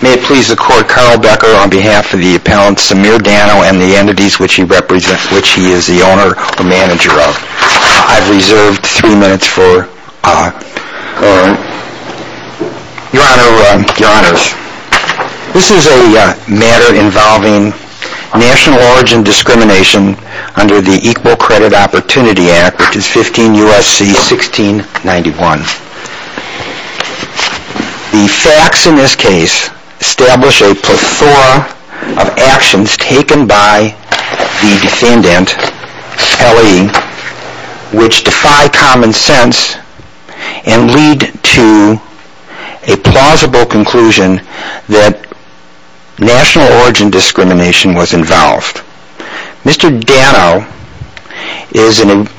May it please the Court, Carl Becker on behalf of the appellant Samir Dano and the entities which he represents, which he is the owner or manager of. I've reserved three minutes for your Honor. This is a matter involving national origin discrimination under the Equal Credit Opportunity Act, which is 15 U.S.C. 1691. The facts in this case establish a plethora of actions taken by the defendant, Kelly, which defy common sense and lead to a plausible conclusion that national origin discrimination was involved. Mr. Dano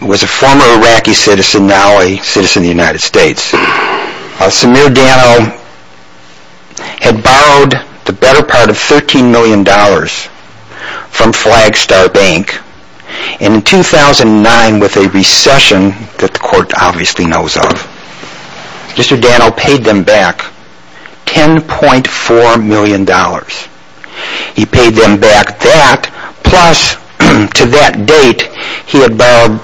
was a former Iraqi citizen, now a citizen of the United States. Samir Dano had borrowed the better part of $13 million from Flagstar Bank and in 2009, with a recession that the Court obviously knows of, Mr. Dano paid them back $10.4 million. He paid them back that, plus to that date he had borrowed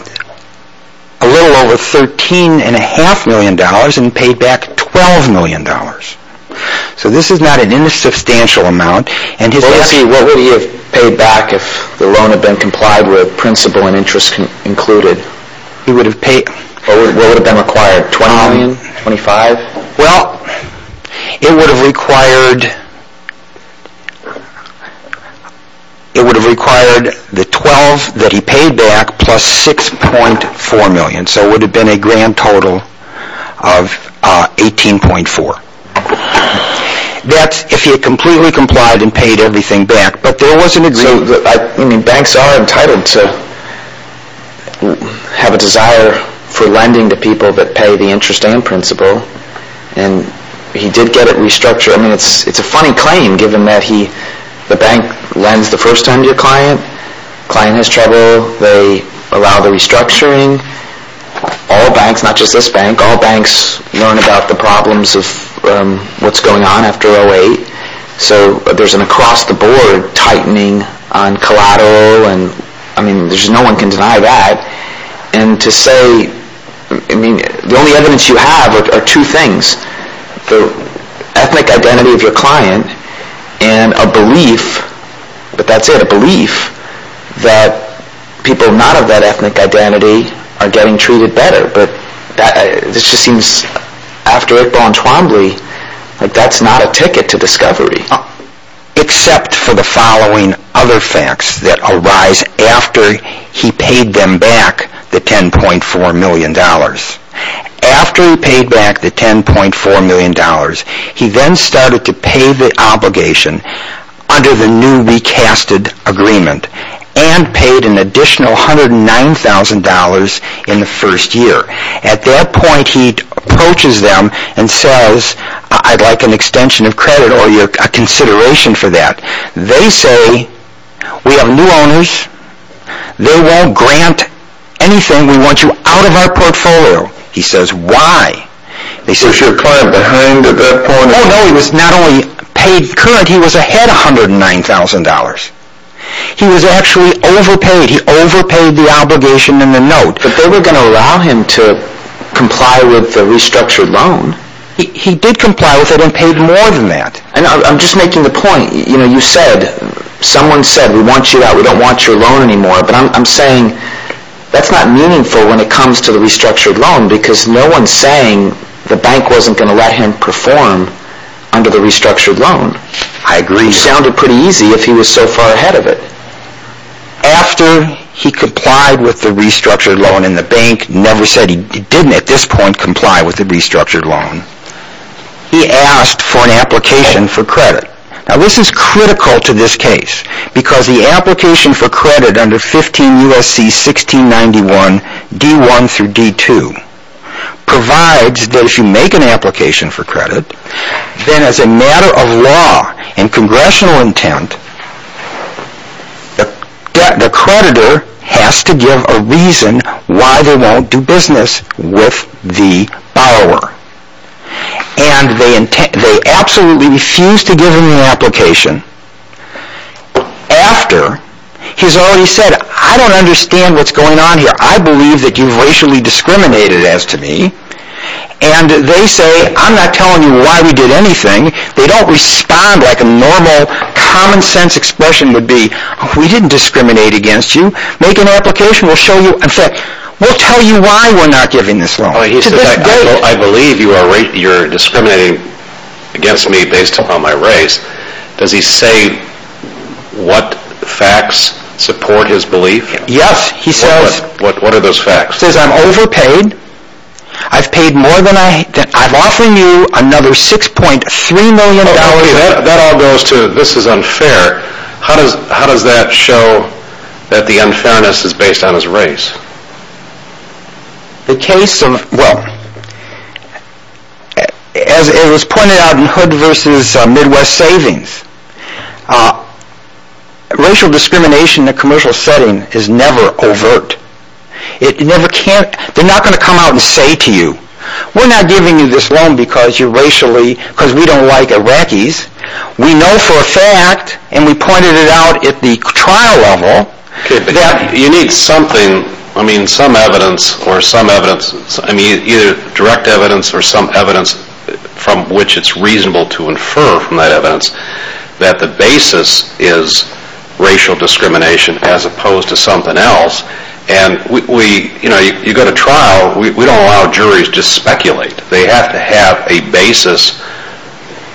a little over $13.5 million and paid back $12 million. So this is not an insubstantial amount. What would he have paid back if the loan had been complied with, principal and interest included? What would have been required? $20 million? $25? Well, it would have required the $12 million that he paid back plus $6.4 million, so it would have been a grand total of $18.4 million. That's if he had completely complied and paid everything back, but there was an agreement. Banks are entitled to have a desire for lending to people that pay the interest and principal, and he did get it restructured. I mean, it's a funny claim given that the bank lends the first time to your client, the client has trouble, they allow the restructuring. All banks, not just this bank, all banks learn about the problems of what's going on after 08. So there's an across-the-board tightening on collateral, I mean, no one can deny that. And to say, I mean, the only evidence you have are two things. The ethnic identity of your client and a belief, but that's it, a belief that people not of that ethnic identity are getting treated better. But this just seems, after Iqbal and Twombly, like that's not a ticket to discovery. Except for the following other facts that arise after he paid them back the $10.4 million. After he paid back the $10.4 million, he then started to pay the obligation under the new recasted agreement, and paid an additional $109,000 in the first year. At that point, he approaches them and says, I'd like an extension of credit or a consideration for that. They say, we have new owners, they won't grant anything, we want you out of our portfolio. He says, why? Is your client behind at that point? Oh no, he was not only paid current, he was ahead $109,000. He was actually overpaid, he overpaid the obligation in the note. But they were going to allow him to comply with the restructured loan. He did comply with it and paid more than that. And I'm just making the point, you know, you said, someone said, we want you out, we don't want your loan anymore. But I'm saying, that's not meaningful when it comes to the restructured loan, because no one's saying the bank wasn't going to let him perform under the restructured loan. I agree. It sounded pretty easy if he was so far ahead of it. After he complied with the restructured loan, and the bank never said he didn't at this point comply with the restructured loan, he asked for an application for credit. Now this is critical to this case, because the application for credit under 15 U.S.C. 1691 D1 through D2 provides that if you make an application for credit, then as a matter of law and congressional intent, the creditor has to give a reason why they won't do business with the borrower. And they absolutely refused to give him the application. After, he's already said, I don't understand what's going on here. I believe that you've racially discriminated as to me. And they say, I'm not telling you why we did anything. They don't respond like a normal common sense expression would be. We didn't discriminate against you. Make an application, we'll show you. In fact, we'll tell you why we're not giving this loan. He says, I believe you're discriminating against me based upon my race. Does he say what facts support his belief? Yes. What are those facts? He says, I'm overpaid. I've paid more than I have. I'm offering you another $6.3 million. That all goes to, this is unfair. How does that show that the unfairness is based on his race? The case of, well, as it was pointed out in Hood v. Midwest Savings, racial discrimination in a commercial setting is never overt. They're not going to come out and say to you, we're not giving you this loan because you're racially, because we don't like Iraqis. We know for a fact, and we pointed it out at the trial level, that you need something, I mean some evidence or some evidence, either direct evidence or some evidence from which it's reasonable to infer from that evidence that the basis is racial discrimination as opposed to something else. And you go to trial, we don't allow juries to just speculate. They have to have a basis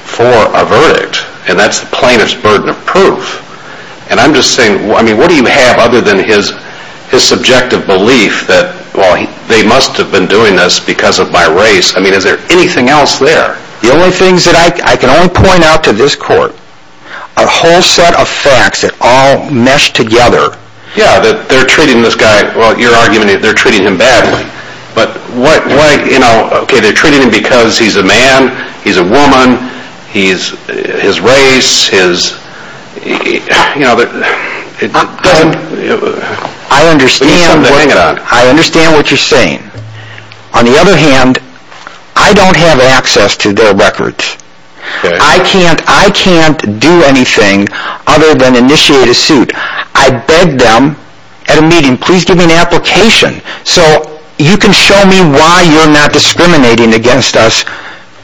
for a verdict, and that's the plaintiff's burden of proof. And I'm just saying, what do you have other than his subjective belief that they must have been doing this because of my race? I mean, is there anything else there? The only things that I can only point out to this court are a whole set of facts that all mesh together. Yeah, they're treating this guy, well you're arguing they're treating him badly, but what, you know, okay, they're treating him because he's a man, he's a woman, he's, his race, his, you know, it doesn't, I understand what you're saying. On the other hand, I don't have access to their records. I can't, I can't do anything other than initiate a suit. I begged them at a meeting, please give me an application so you can show me why you're not discriminating against us,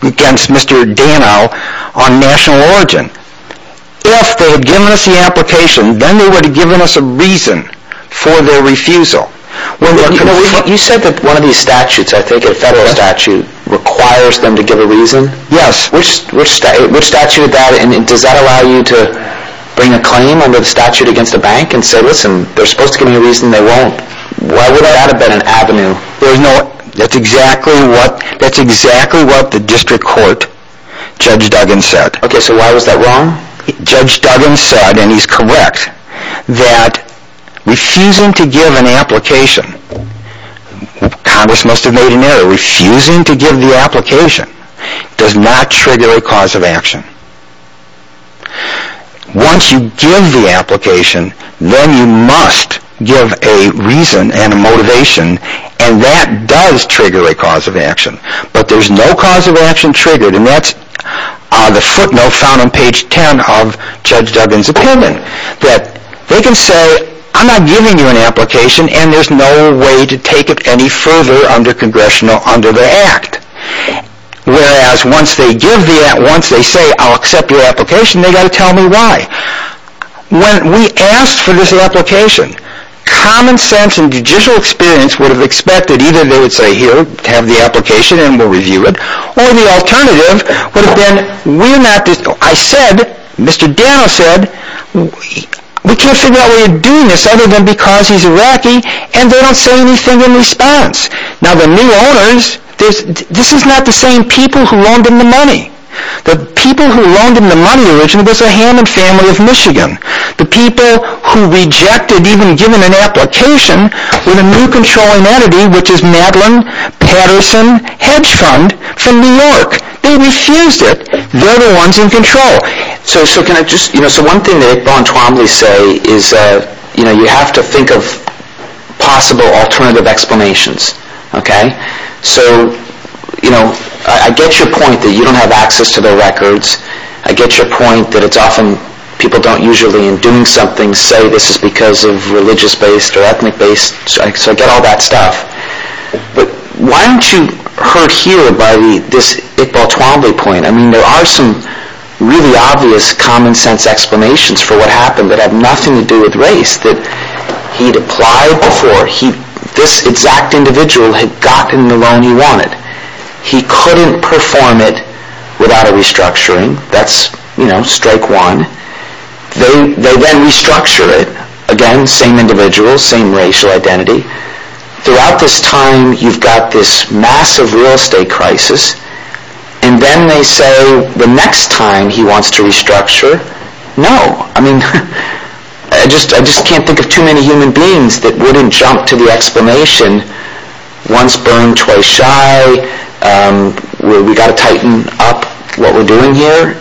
against Mr. Dano on national origin. If they had given us the application, then they would have given us a reason for their refusal. You said that one of these statutes, I think a federal statute, requires them to give a reason? Yes. Which statute, does that allow you to bring a claim under the statute against a bank and say, listen, they're supposed to give me a reason, they won't. Why would that have been an avenue? There's no, that's exactly what the district court, Judge Duggan, said. Okay, so why was that wrong? Judge Duggan said, and he's correct, that refusing to give an application, Congress must have made an error, refusing to give the application, does not trigger a cause of action. Once you give the application, then you must give a reason and a motivation, and that does trigger a cause of action. But there's no cause of action triggered, and that's the footnote found on page 10 of Judge Duggan's opinion, that they can say, I'm not giving you an application, and there's no way to take it any further under the act. Whereas once they say, I'll accept your application, they've got to tell me why. When we asked for this application, common sense and judicial experience would have expected, either they would say, here, have the application and we'll review it, or the alternative would have been, we're not, I said, Mr. Dano said, we can't figure out why you're doing this other than because he's Iraqi, and they don't say anything in response. Now the new owners, this is not the same people who loaned him the money. The people who loaned him the money originally was the Hammond family of Michigan. The people who rejected even giving an application were the new controlling entity, which is Madeline Patterson Hedge Fund from New York. They refused it. They're the ones in control. So one thing that Iqbal and Twombly say is, you have to think of possible alternative explanations. So I get your point that you don't have access to their records. I get your point that it's often people don't usually, in doing something, say this is because of religious-based or ethnic-based, so I get all that stuff. But why aren't you hurt here by this Iqbal Twombly point? I mean, there are some really obvious common-sense explanations for what happened that have nothing to do with race that he'd applied for. This exact individual had gotten the loan he wanted. He couldn't perform it without a restructuring. That's, you know, strike one. They then restructure it. Again, same individual, same racial identity. Throughout this time, you've got this massive real estate crisis, and then they say the next time he wants to restructure, no. I mean, I just can't think of too many human beings that wouldn't jump to the explanation, once burned, twice shy. We've got to tighten up what we're doing here.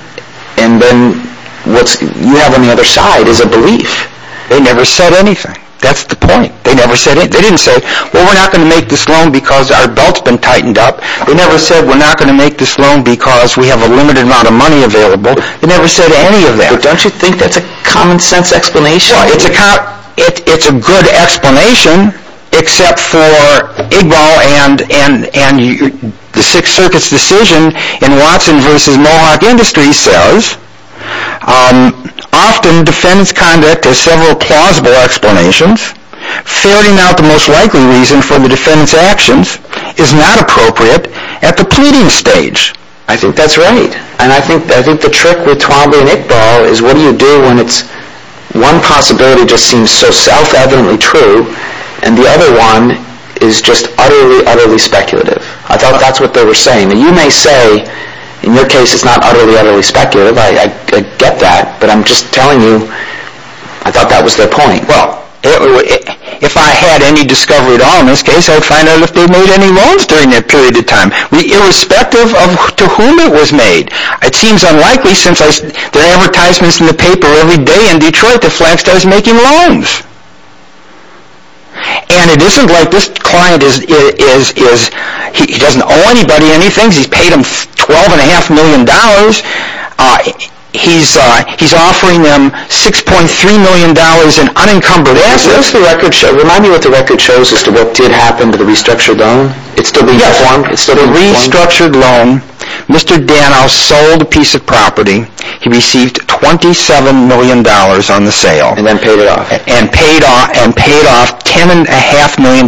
And then what you have on the other side is a belief. They never said anything. That's the point. They didn't say, well, we're not going to make this loan because our belt's been tightened up. They never said, we're not going to make this loan because we have a limited amount of money available. They never said any of that. Don't you think that's a common-sense explanation? Well, it's a good explanation, except for Igbal and the Sixth Circuit's decision in Watson v. Mohawk Industries says, often defendants' conduct has several plausible explanations. Faring out the most likely reason for the defendants' actions is not appropriate at the pleading stage. I think that's right. And I think the trick with Twombly and Igbal is what do you do when one possibility just seems so self-evidently true, and the other one is just utterly, utterly speculative. I thought that's what they were saying. Now, you may say, in your case, it's not utterly, utterly speculative. I get that, but I'm just telling you, I thought that was their point. Well, if I had any discovery at all in this case, I would find out if they made any loans during that period of time, irrespective of to whom it was made. It seems unlikely since there are advertisements in the paper every day in Detroit that Flagstaff is making loans. And it isn't like this client, he doesn't owe anybody anything. He's paid them $12.5 million. He's offering them $6.3 million in unencumbered assets. Remind me what the record shows as to what did happen to the restructured loan. It's still being performed? Yes. So the restructured loan, Mr. Danow sold a piece of property. He received $27 million on the sale. And then paid it off. And paid off $10.5 million,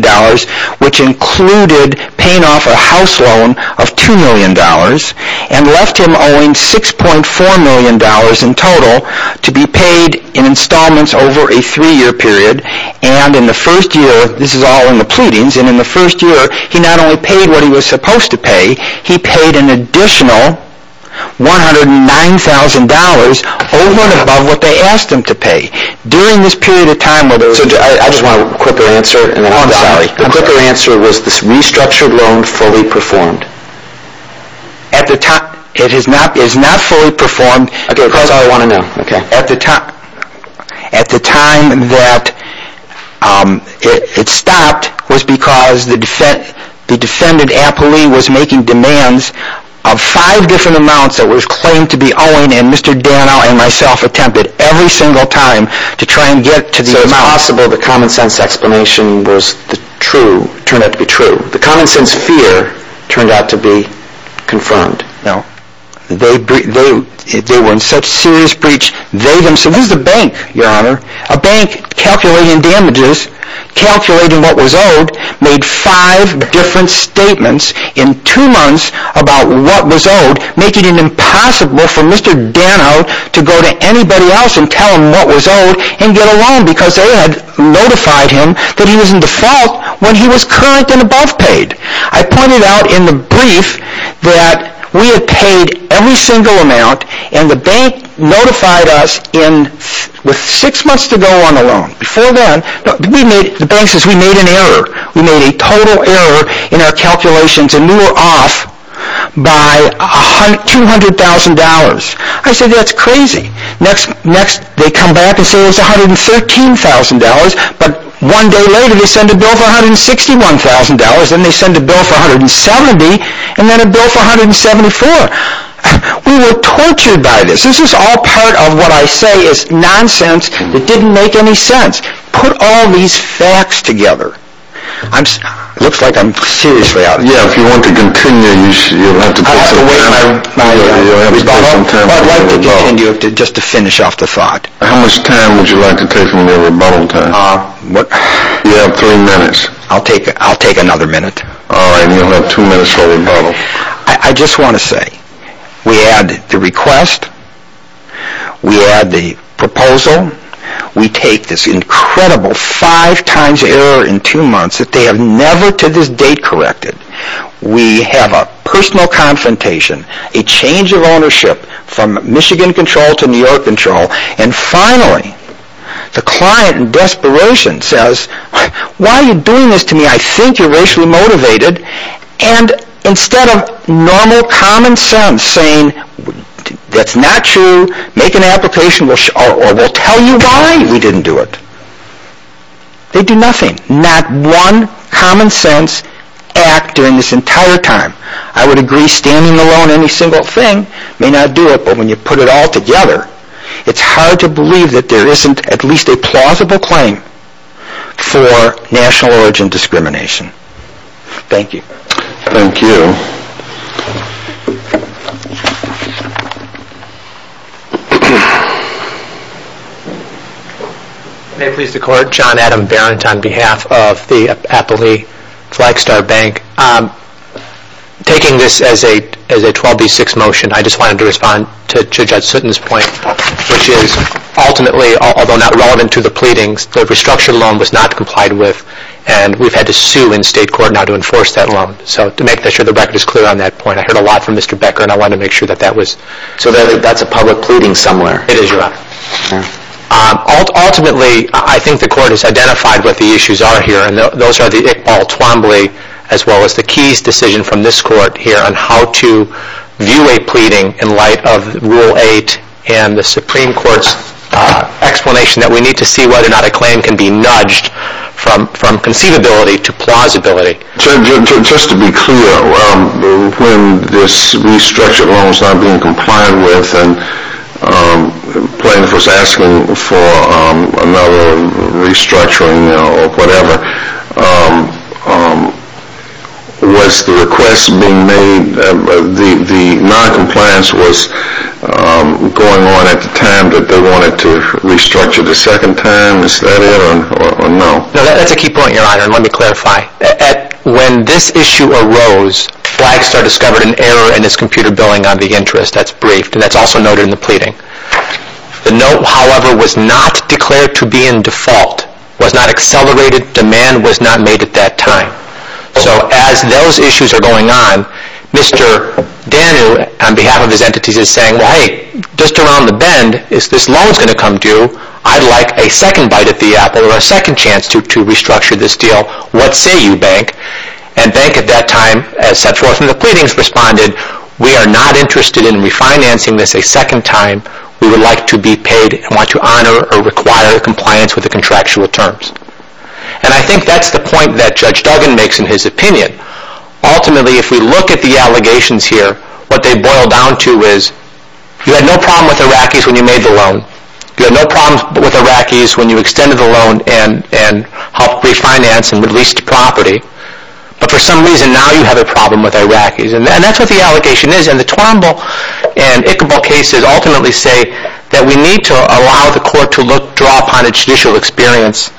which included paying off a house loan of $2 million and left him owing $6.4 million in total to be paid in installments over a three-year period. And in the first year, this is all in the pleadings, and in the first year he not only paid what he was supposed to pay, he paid an additional $109,000 over and above what they asked him to pay. During this period of time... I just want a quicker answer. Oh, I'm sorry. The quicker answer was this restructured loan fully performed. It is not fully performed. Okay, that's all I want to know. At the time that it stopped was because the defendant, Appley, was making demands of five different amounts that were claimed to be owing, and Mr. Danow and myself attempted every single time to try and get to the amount. It was impossible. The common sense explanation turned out to be true. The common sense fear turned out to be confirmed. They were in such serious breach, they themselves... This is a bank, Your Honor. A bank calculating damages, calculating what was owed, made five different statements in two months about what was owed, making it impossible for Mr. Danow to go to anybody else and tell them what was owed and get a loan because they had notified him that he was in default when he was current and above paid. I pointed out in the brief that we had paid every single amount and the bank notified us with six months to go on the loan. Before then, the bank says we made an error. We made a total error in our calculations and we were off by $200,000. I said, that's crazy. Next, they come back and say it was $113,000, but one day later they send a bill for $161,000, then they send a bill for $170,000, and then a bill for $174,000. We were tortured by this. This is all part of what I say is nonsense. It didn't make any sense. Put all these facts together. It looks like I'm seriously out of it. Yeah, if you want to continue, you'll have to take some time. I'd like to continue just to finish off the thought. How much time would you like to take from the rebuttal time? You have three minutes. I'll take another minute. All right, and you'll have two minutes for rebuttal. I just want to say, we add the request, we add the proposal, we take this incredible five times error in two months that they have never to this date corrected. We have a personal confrontation, a change of ownership from Michigan control to New York control, and finally the client in desperation says, why are you doing this to me? I think you're racially motivated. And instead of normal common sense saying, that's not true, make an application, or we'll tell you why we didn't do it. They do nothing. Not one common sense act during this entire time. I would agree standing alone on any single thing may not do it, but when you put it all together, it's hard to believe that there isn't at least a plausible claim for national origin discrimination. Thank you. Thank you. May it please the court. John Adam Barrett on behalf of the Appley Flagstar Bank. Taking this as a 12B6 motion, I just wanted to respond to Judge Sutton's point, which is ultimately, although not relevant to the pleadings, the restructured loan was not complied with, and we've had to sue in state court now to enforce that loan. So to make sure the record is clear on that point, I heard a lot from Mr. Becker, and I wanted to make sure that that was, so that's a public pleading somewhere. It is, Your Honor. Ultimately, I think the court has identified what the issues are here, and those are the all Twombly, as well as the Keyes decision from this court here on how to view a pleading in light of Rule 8 and the Supreme Court's explanation that we need to see whether or not a claim can be nudged from conceivability to plausibility. Judge, just to be clear, when this restructured loan was not being complied with and plaintiff was asking for another restructuring or whatever, was the request being made, the noncompliance was going on at the time that they wanted to restructure the second time? Is that it or no? No, that's a key point, Your Honor, and let me clarify. When this issue arose, Flagstar discovered an error in its computer billing on the interest. That's brief, and that's also noted in the pleading. The note, however, was not declared to be in default, was not accelerated, demand was not made at that time. So as those issues are going on, Mr. Danu, on behalf of his entities, is saying, hey, just around the bend, if this loan's going to come due, I'd like a second bite at the apple or a second chance to restructure this deal. What say you, Bank? And Bank, at that time, as set forth in the pleadings, responded, we are not interested in refinancing this a second time. We would like to be paid and want to honor or require compliance with the contractual terms. And I think that's the point that Judge Duggan makes in his opinion. Ultimately, if we look at the allegations here, what they boil down to is you had no problem with Iraqis when you made the loan. You had no problem with Iraqis when you extended the loan and helped refinance and released property. But for some reason, now you have a problem with Iraqis. And that's what the allegation is. And the Twombly and Ichabod cases ultimately say that we need to allow the court to look, draw upon its judicial experience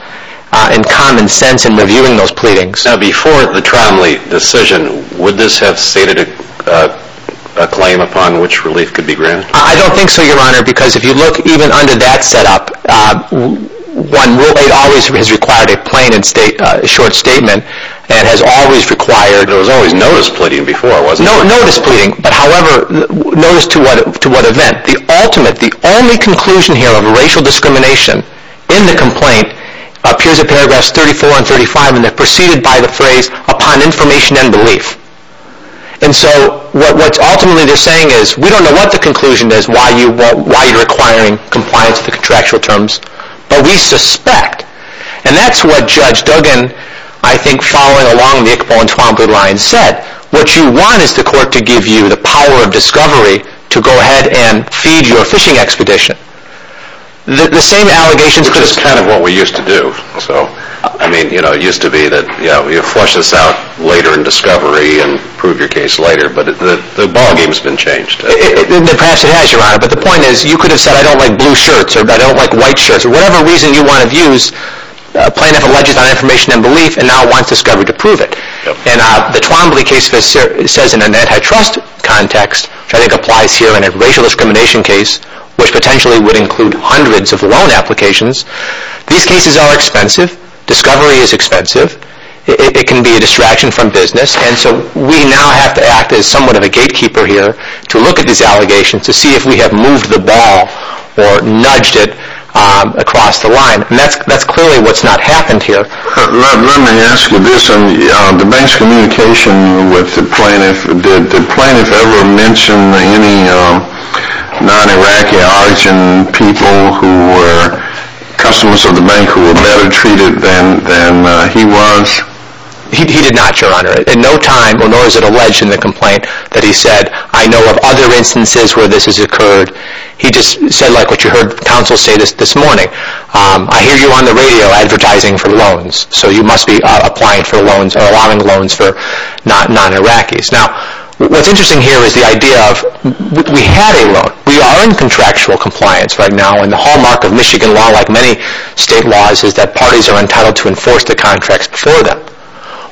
and common sense in reviewing those pleadings. Now, before the Twombly decision, would this have stated a claim upon which relief could be granted? I don't think so, Your Honor, because if you look even under that setup, it always has required a plain and short statement and has always required... There was always notice pleading before, wasn't there? Notice pleading, but notice to what event? The ultimate, the only conclusion here of racial discrimination in the complaint appears in paragraphs 34 and 35, and they're preceded by the phrase, upon information and belief. And so what ultimately they're saying is we don't know what the conclusion is, why you're requiring compliance with the contractual terms, but we suspect. And that's what Judge Duggan, I think following along the Ichabod and Twombly line, said, what you want is the court to give you the power of discovery to go ahead and feed your fishing expedition. The same allegations... Which is kind of what we used to do. I mean, you know, it used to be that, you flush this out later in discovery and prove your case later, but the ballgame's been changed. Perhaps it has, Your Honor, but the point is you could have said I don't like blue shirts or I don't like white shirts, or whatever reason you want to use, plaintiff alleges on information and belief and now wants discovery to prove it. And the Twombly case says in an antitrust context, which I think applies here in a racial discrimination case, which potentially would include hundreds of loan applications, these cases are expensive, discovery is expensive, it can be a distraction from business, and so we now have to act as somewhat of a gatekeeper here to look at these allegations to see if we have moved the ball or nudged it across the line. And that's clearly what's not happened here. Let me ask you this. The bank's communication with the plaintiff, did the plaintiff ever mention any non-Iraqi or Argentine people who were customers of the bank who were better treated than he was? He did not, Your Honor. In no time, nor is it alleged in the complaint, that he said, I know of other instances where this has occurred. He just said like what you heard the counsel say this morning. I hear you on the radio advertising for loans, so you must be applying for loans or allowing loans for non-Iraqis. Now, what's interesting here is the idea of we had a loan. We are in contractual compliance right now, and the hallmark of Michigan law, like many state laws, is that parties are entitled to enforce the contracts before them.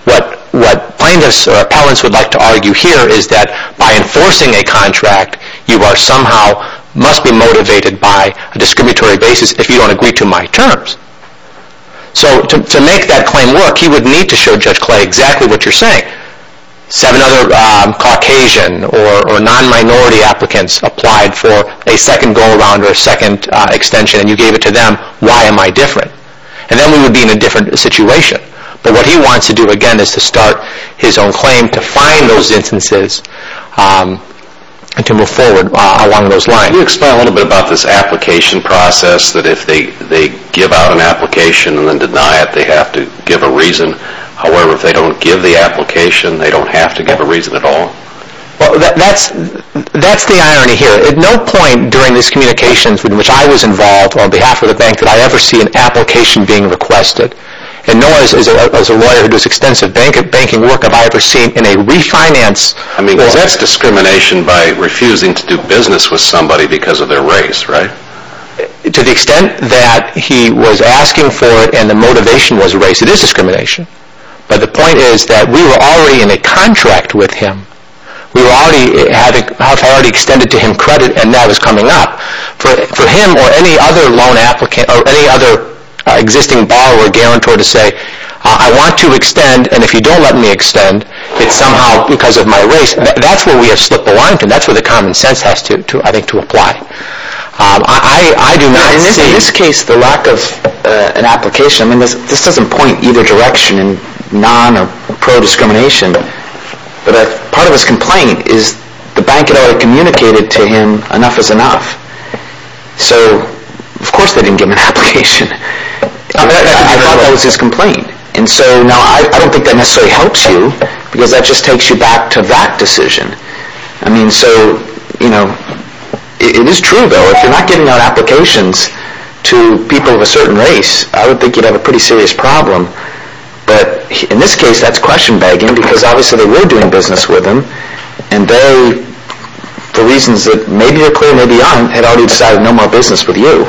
What plaintiffs or appellants would like to argue here is that by enforcing a contract, you somehow must be motivated by a discriminatory basis if you don't agree to my terms. So to make that claim work, he would need to show Judge Clay exactly what you're saying. Seven other Caucasian or non-minority applicants applied for a second go-around or a second extension, and you gave it to them. Why am I different? And then we would be in a different situation. But what he wants to do again is to start his own claim to find those instances and to move forward along those lines. Can you explain a little bit about this application process, that if they give out an application and then deny it, they have to give a reason? However, if they don't give the application, they don't have to give a reason at all? Well, that's the irony here. At no point during these communications in which I was involved on behalf of the bank did I ever see an application being requested. And no one, as a lawyer who does extensive banking workup, have I ever seen in a refinance... I mean, that's discrimination by refusing to do business with somebody because of their race, right? To the extent that he was asking for it and the motivation was race, it is discrimination. But the point is that we were already in a contract with him. We were already having... I already extended to him credit and now it's coming up. For him or any other loan applicant or any other existing borrower, I want to extend, and if you don't let me extend, it's somehow because of my race. That's where we have slipped the line. That's where the common sense has to, I think, to apply. I do not see... In this case, the lack of an application... I mean, this doesn't point in either direction, in non- or pro-discrimination. But part of his complaint is the bank had already communicated to him enough is enough. So, of course they didn't give him an application. I thought that was his complaint. And so, no, I don't think that necessarily helps you because that just takes you back to that decision. I mean, so, you know... It is true, though, if you're not getting out applications to people of a certain race, I would think you'd have a pretty serious problem. But in this case, that's question-begging because obviously they were doing business with him and they... The reasons that maybe they're clear, maybe they aren't, had already decided no more business with you.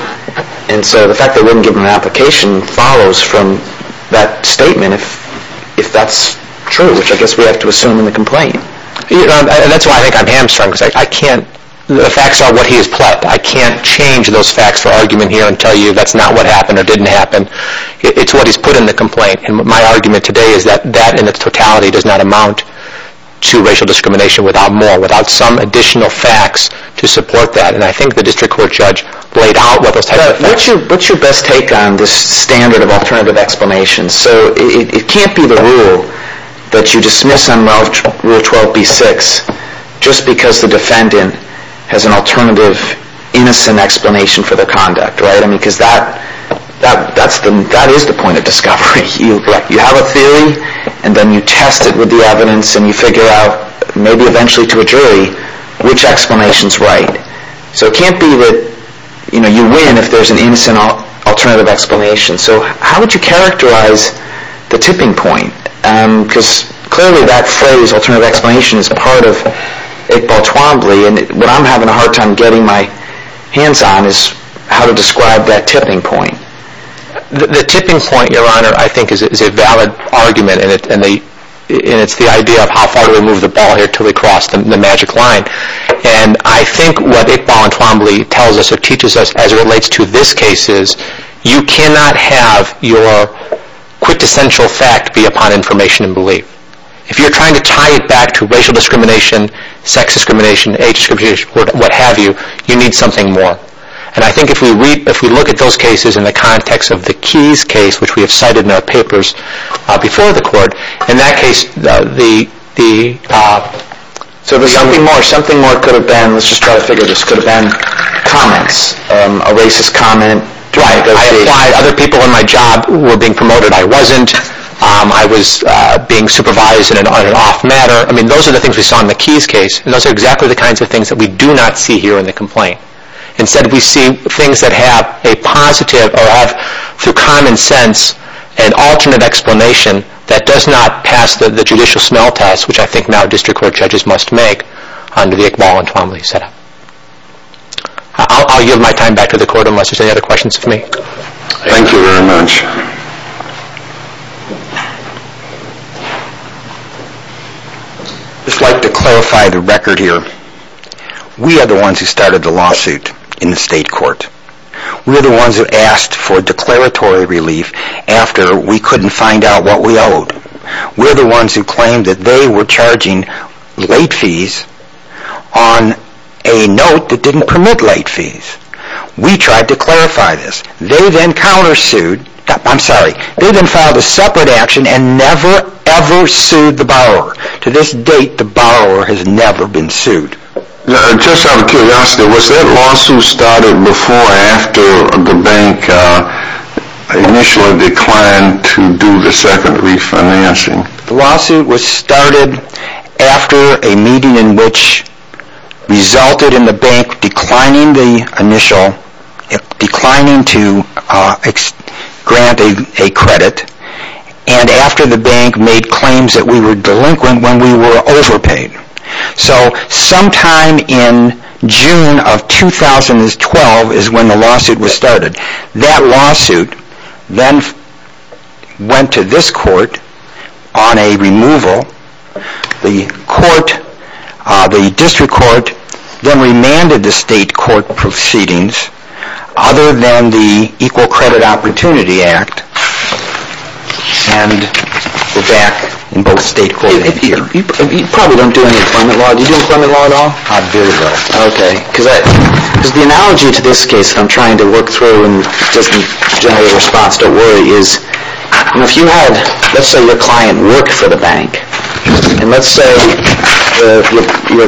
And so the fact they wouldn't give him an application follows from that statement, if that's true, which I guess we have to assume in the complaint. That's why I think I'm hamstrung. Because I can't... The facts are what he has pled. I can't change those facts for argument here and tell you that's not what happened or didn't happen. It's what he's put in the complaint. And my argument today is that that in its totality does not amount to racial discrimination without more, without some additional facts to support that. And I think the district court judge laid out what those types of facts... What's your best take on this standard of alternative explanations? So it can't be the rule that you dismiss on Rule 12b-6 just because the defendant has an alternative innocent explanation for their conduct, right? I mean, because that is the point of discovery. You have a theory and then you test it with the evidence and you figure out, maybe eventually to a jury, which explanation's right. So it can't be that you win if there's an innocent alternative explanation. So how would you characterize the tipping point? Because clearly that phrase, alternative explanation, is part of it baltwombly, and what I'm having a hard time getting my hands on is how to describe that tipping point. The tipping point, Your Honor, I think is a valid argument and it's the idea of how far do we move the ball here until we cross the magic line. And I think what it baltwombly tells us or teaches us as it relates to this case is you cannot have your quintessential fact be upon information and belief. If you're trying to tie it back to racial discrimination, sex discrimination, age discrimination, what have you, you need something more. And I think if we look at those cases in the context of the Keys case, which we have cited in our papers before the Court, in that case, the... Something more could have been, let's just try to figure this, could have been comments, a racist comment. Right, I applied, other people in my job were being promoted, I wasn't, I was being supervised in an on and off matter. I mean, those are the things we saw in the Keys case and those are exactly the kinds of things that we do not see here in the complaint. Instead, we see things that have a positive or have, through common sense, an alternate explanation that does not pass the judicial smell test, which I think now district court judges must make under the Iqbal and Twombly setup. I'll yield my time back to the Court unless there's any other questions for me. Thank you very much. I'd just like to clarify the record here. We are the ones who started the lawsuit in the state court. We're the ones who asked for declaratory relief after we couldn't find out what we owed. We're the ones who claimed that they were charging late fees on a note that didn't permit late fees. We tried to clarify this. They then countersued, I'm sorry, they then filed a separate action and never, ever sued the borrower. To this date, the borrower has never been sued. Just out of curiosity, was that lawsuit started before or after the bank initially declined to do the second refinancing? The lawsuit was started after a meeting in which resulted in the bank declining the initial, declining to grant a credit, and after the bank made claims that we were delinquent when we were overpaid. So sometime in June of 2012 is when the lawsuit was started. That lawsuit then went to this court on a removal. The court, the district court, then remanded the state court proceedings other than the Equal Credit Opportunity Act and we're back in both state court and here. You probably don't do any employment law. Do you do employment law at all? I do though. Okay. Because the analogy to this case that I'm trying to work through and just generate a response, don't worry, is if you had, let's say, your client work for the bank and let's say your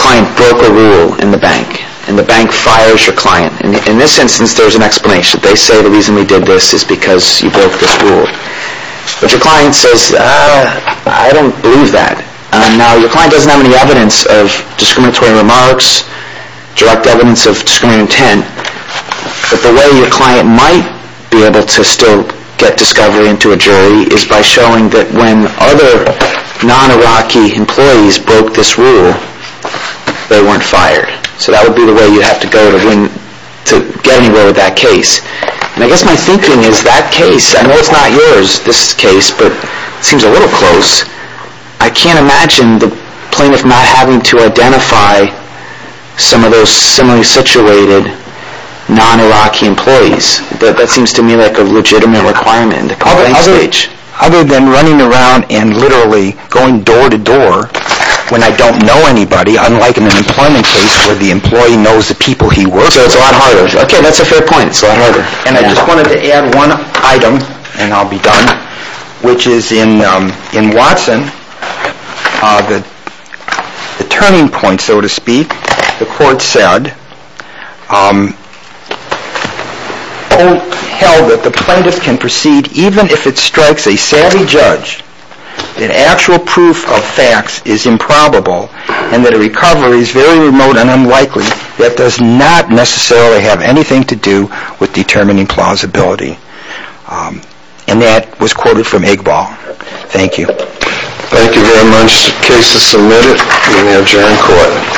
client broke a rule in the bank and the bank fires your client. In this instance, there's an explanation. They say the reason we did this is because you broke this rule. But your client says, I don't believe that. Now, your client doesn't have any evidence of discriminatory remarks, direct evidence of discriminatory intent. But the way your client might be able to still get discovery into a jury is by showing that when other non-Iraqi employees broke this rule, they weren't fired. So that would be the way you have to go to get anywhere with that case. And I guess my thinking is that case, I know it's not yours, this case, but it seems a little close. I can't imagine the plaintiff not having to identify some of those similarly situated non-Iraqi employees. That seems to me like a legitimate requirement in the complaint stage. Other than running around and literally going door to door when I don't know anybody, unlike in an employment case where the employee knows the people he works with. Okay, that's a fair point. And I just wanted to add one item, and I'll be done, which is in Watson, the turning point, so to speak. The court said, oh, hell, that the plaintiff can proceed even if it strikes a savvy judge that actual proof of facts is improbable and that a recovery is very remote and unlikely that does not necessarily have anything to do with determining plausibility. And that was quoted from Iqbal. Thank you. Thank you very much. The case is submitted. We now adjourn court.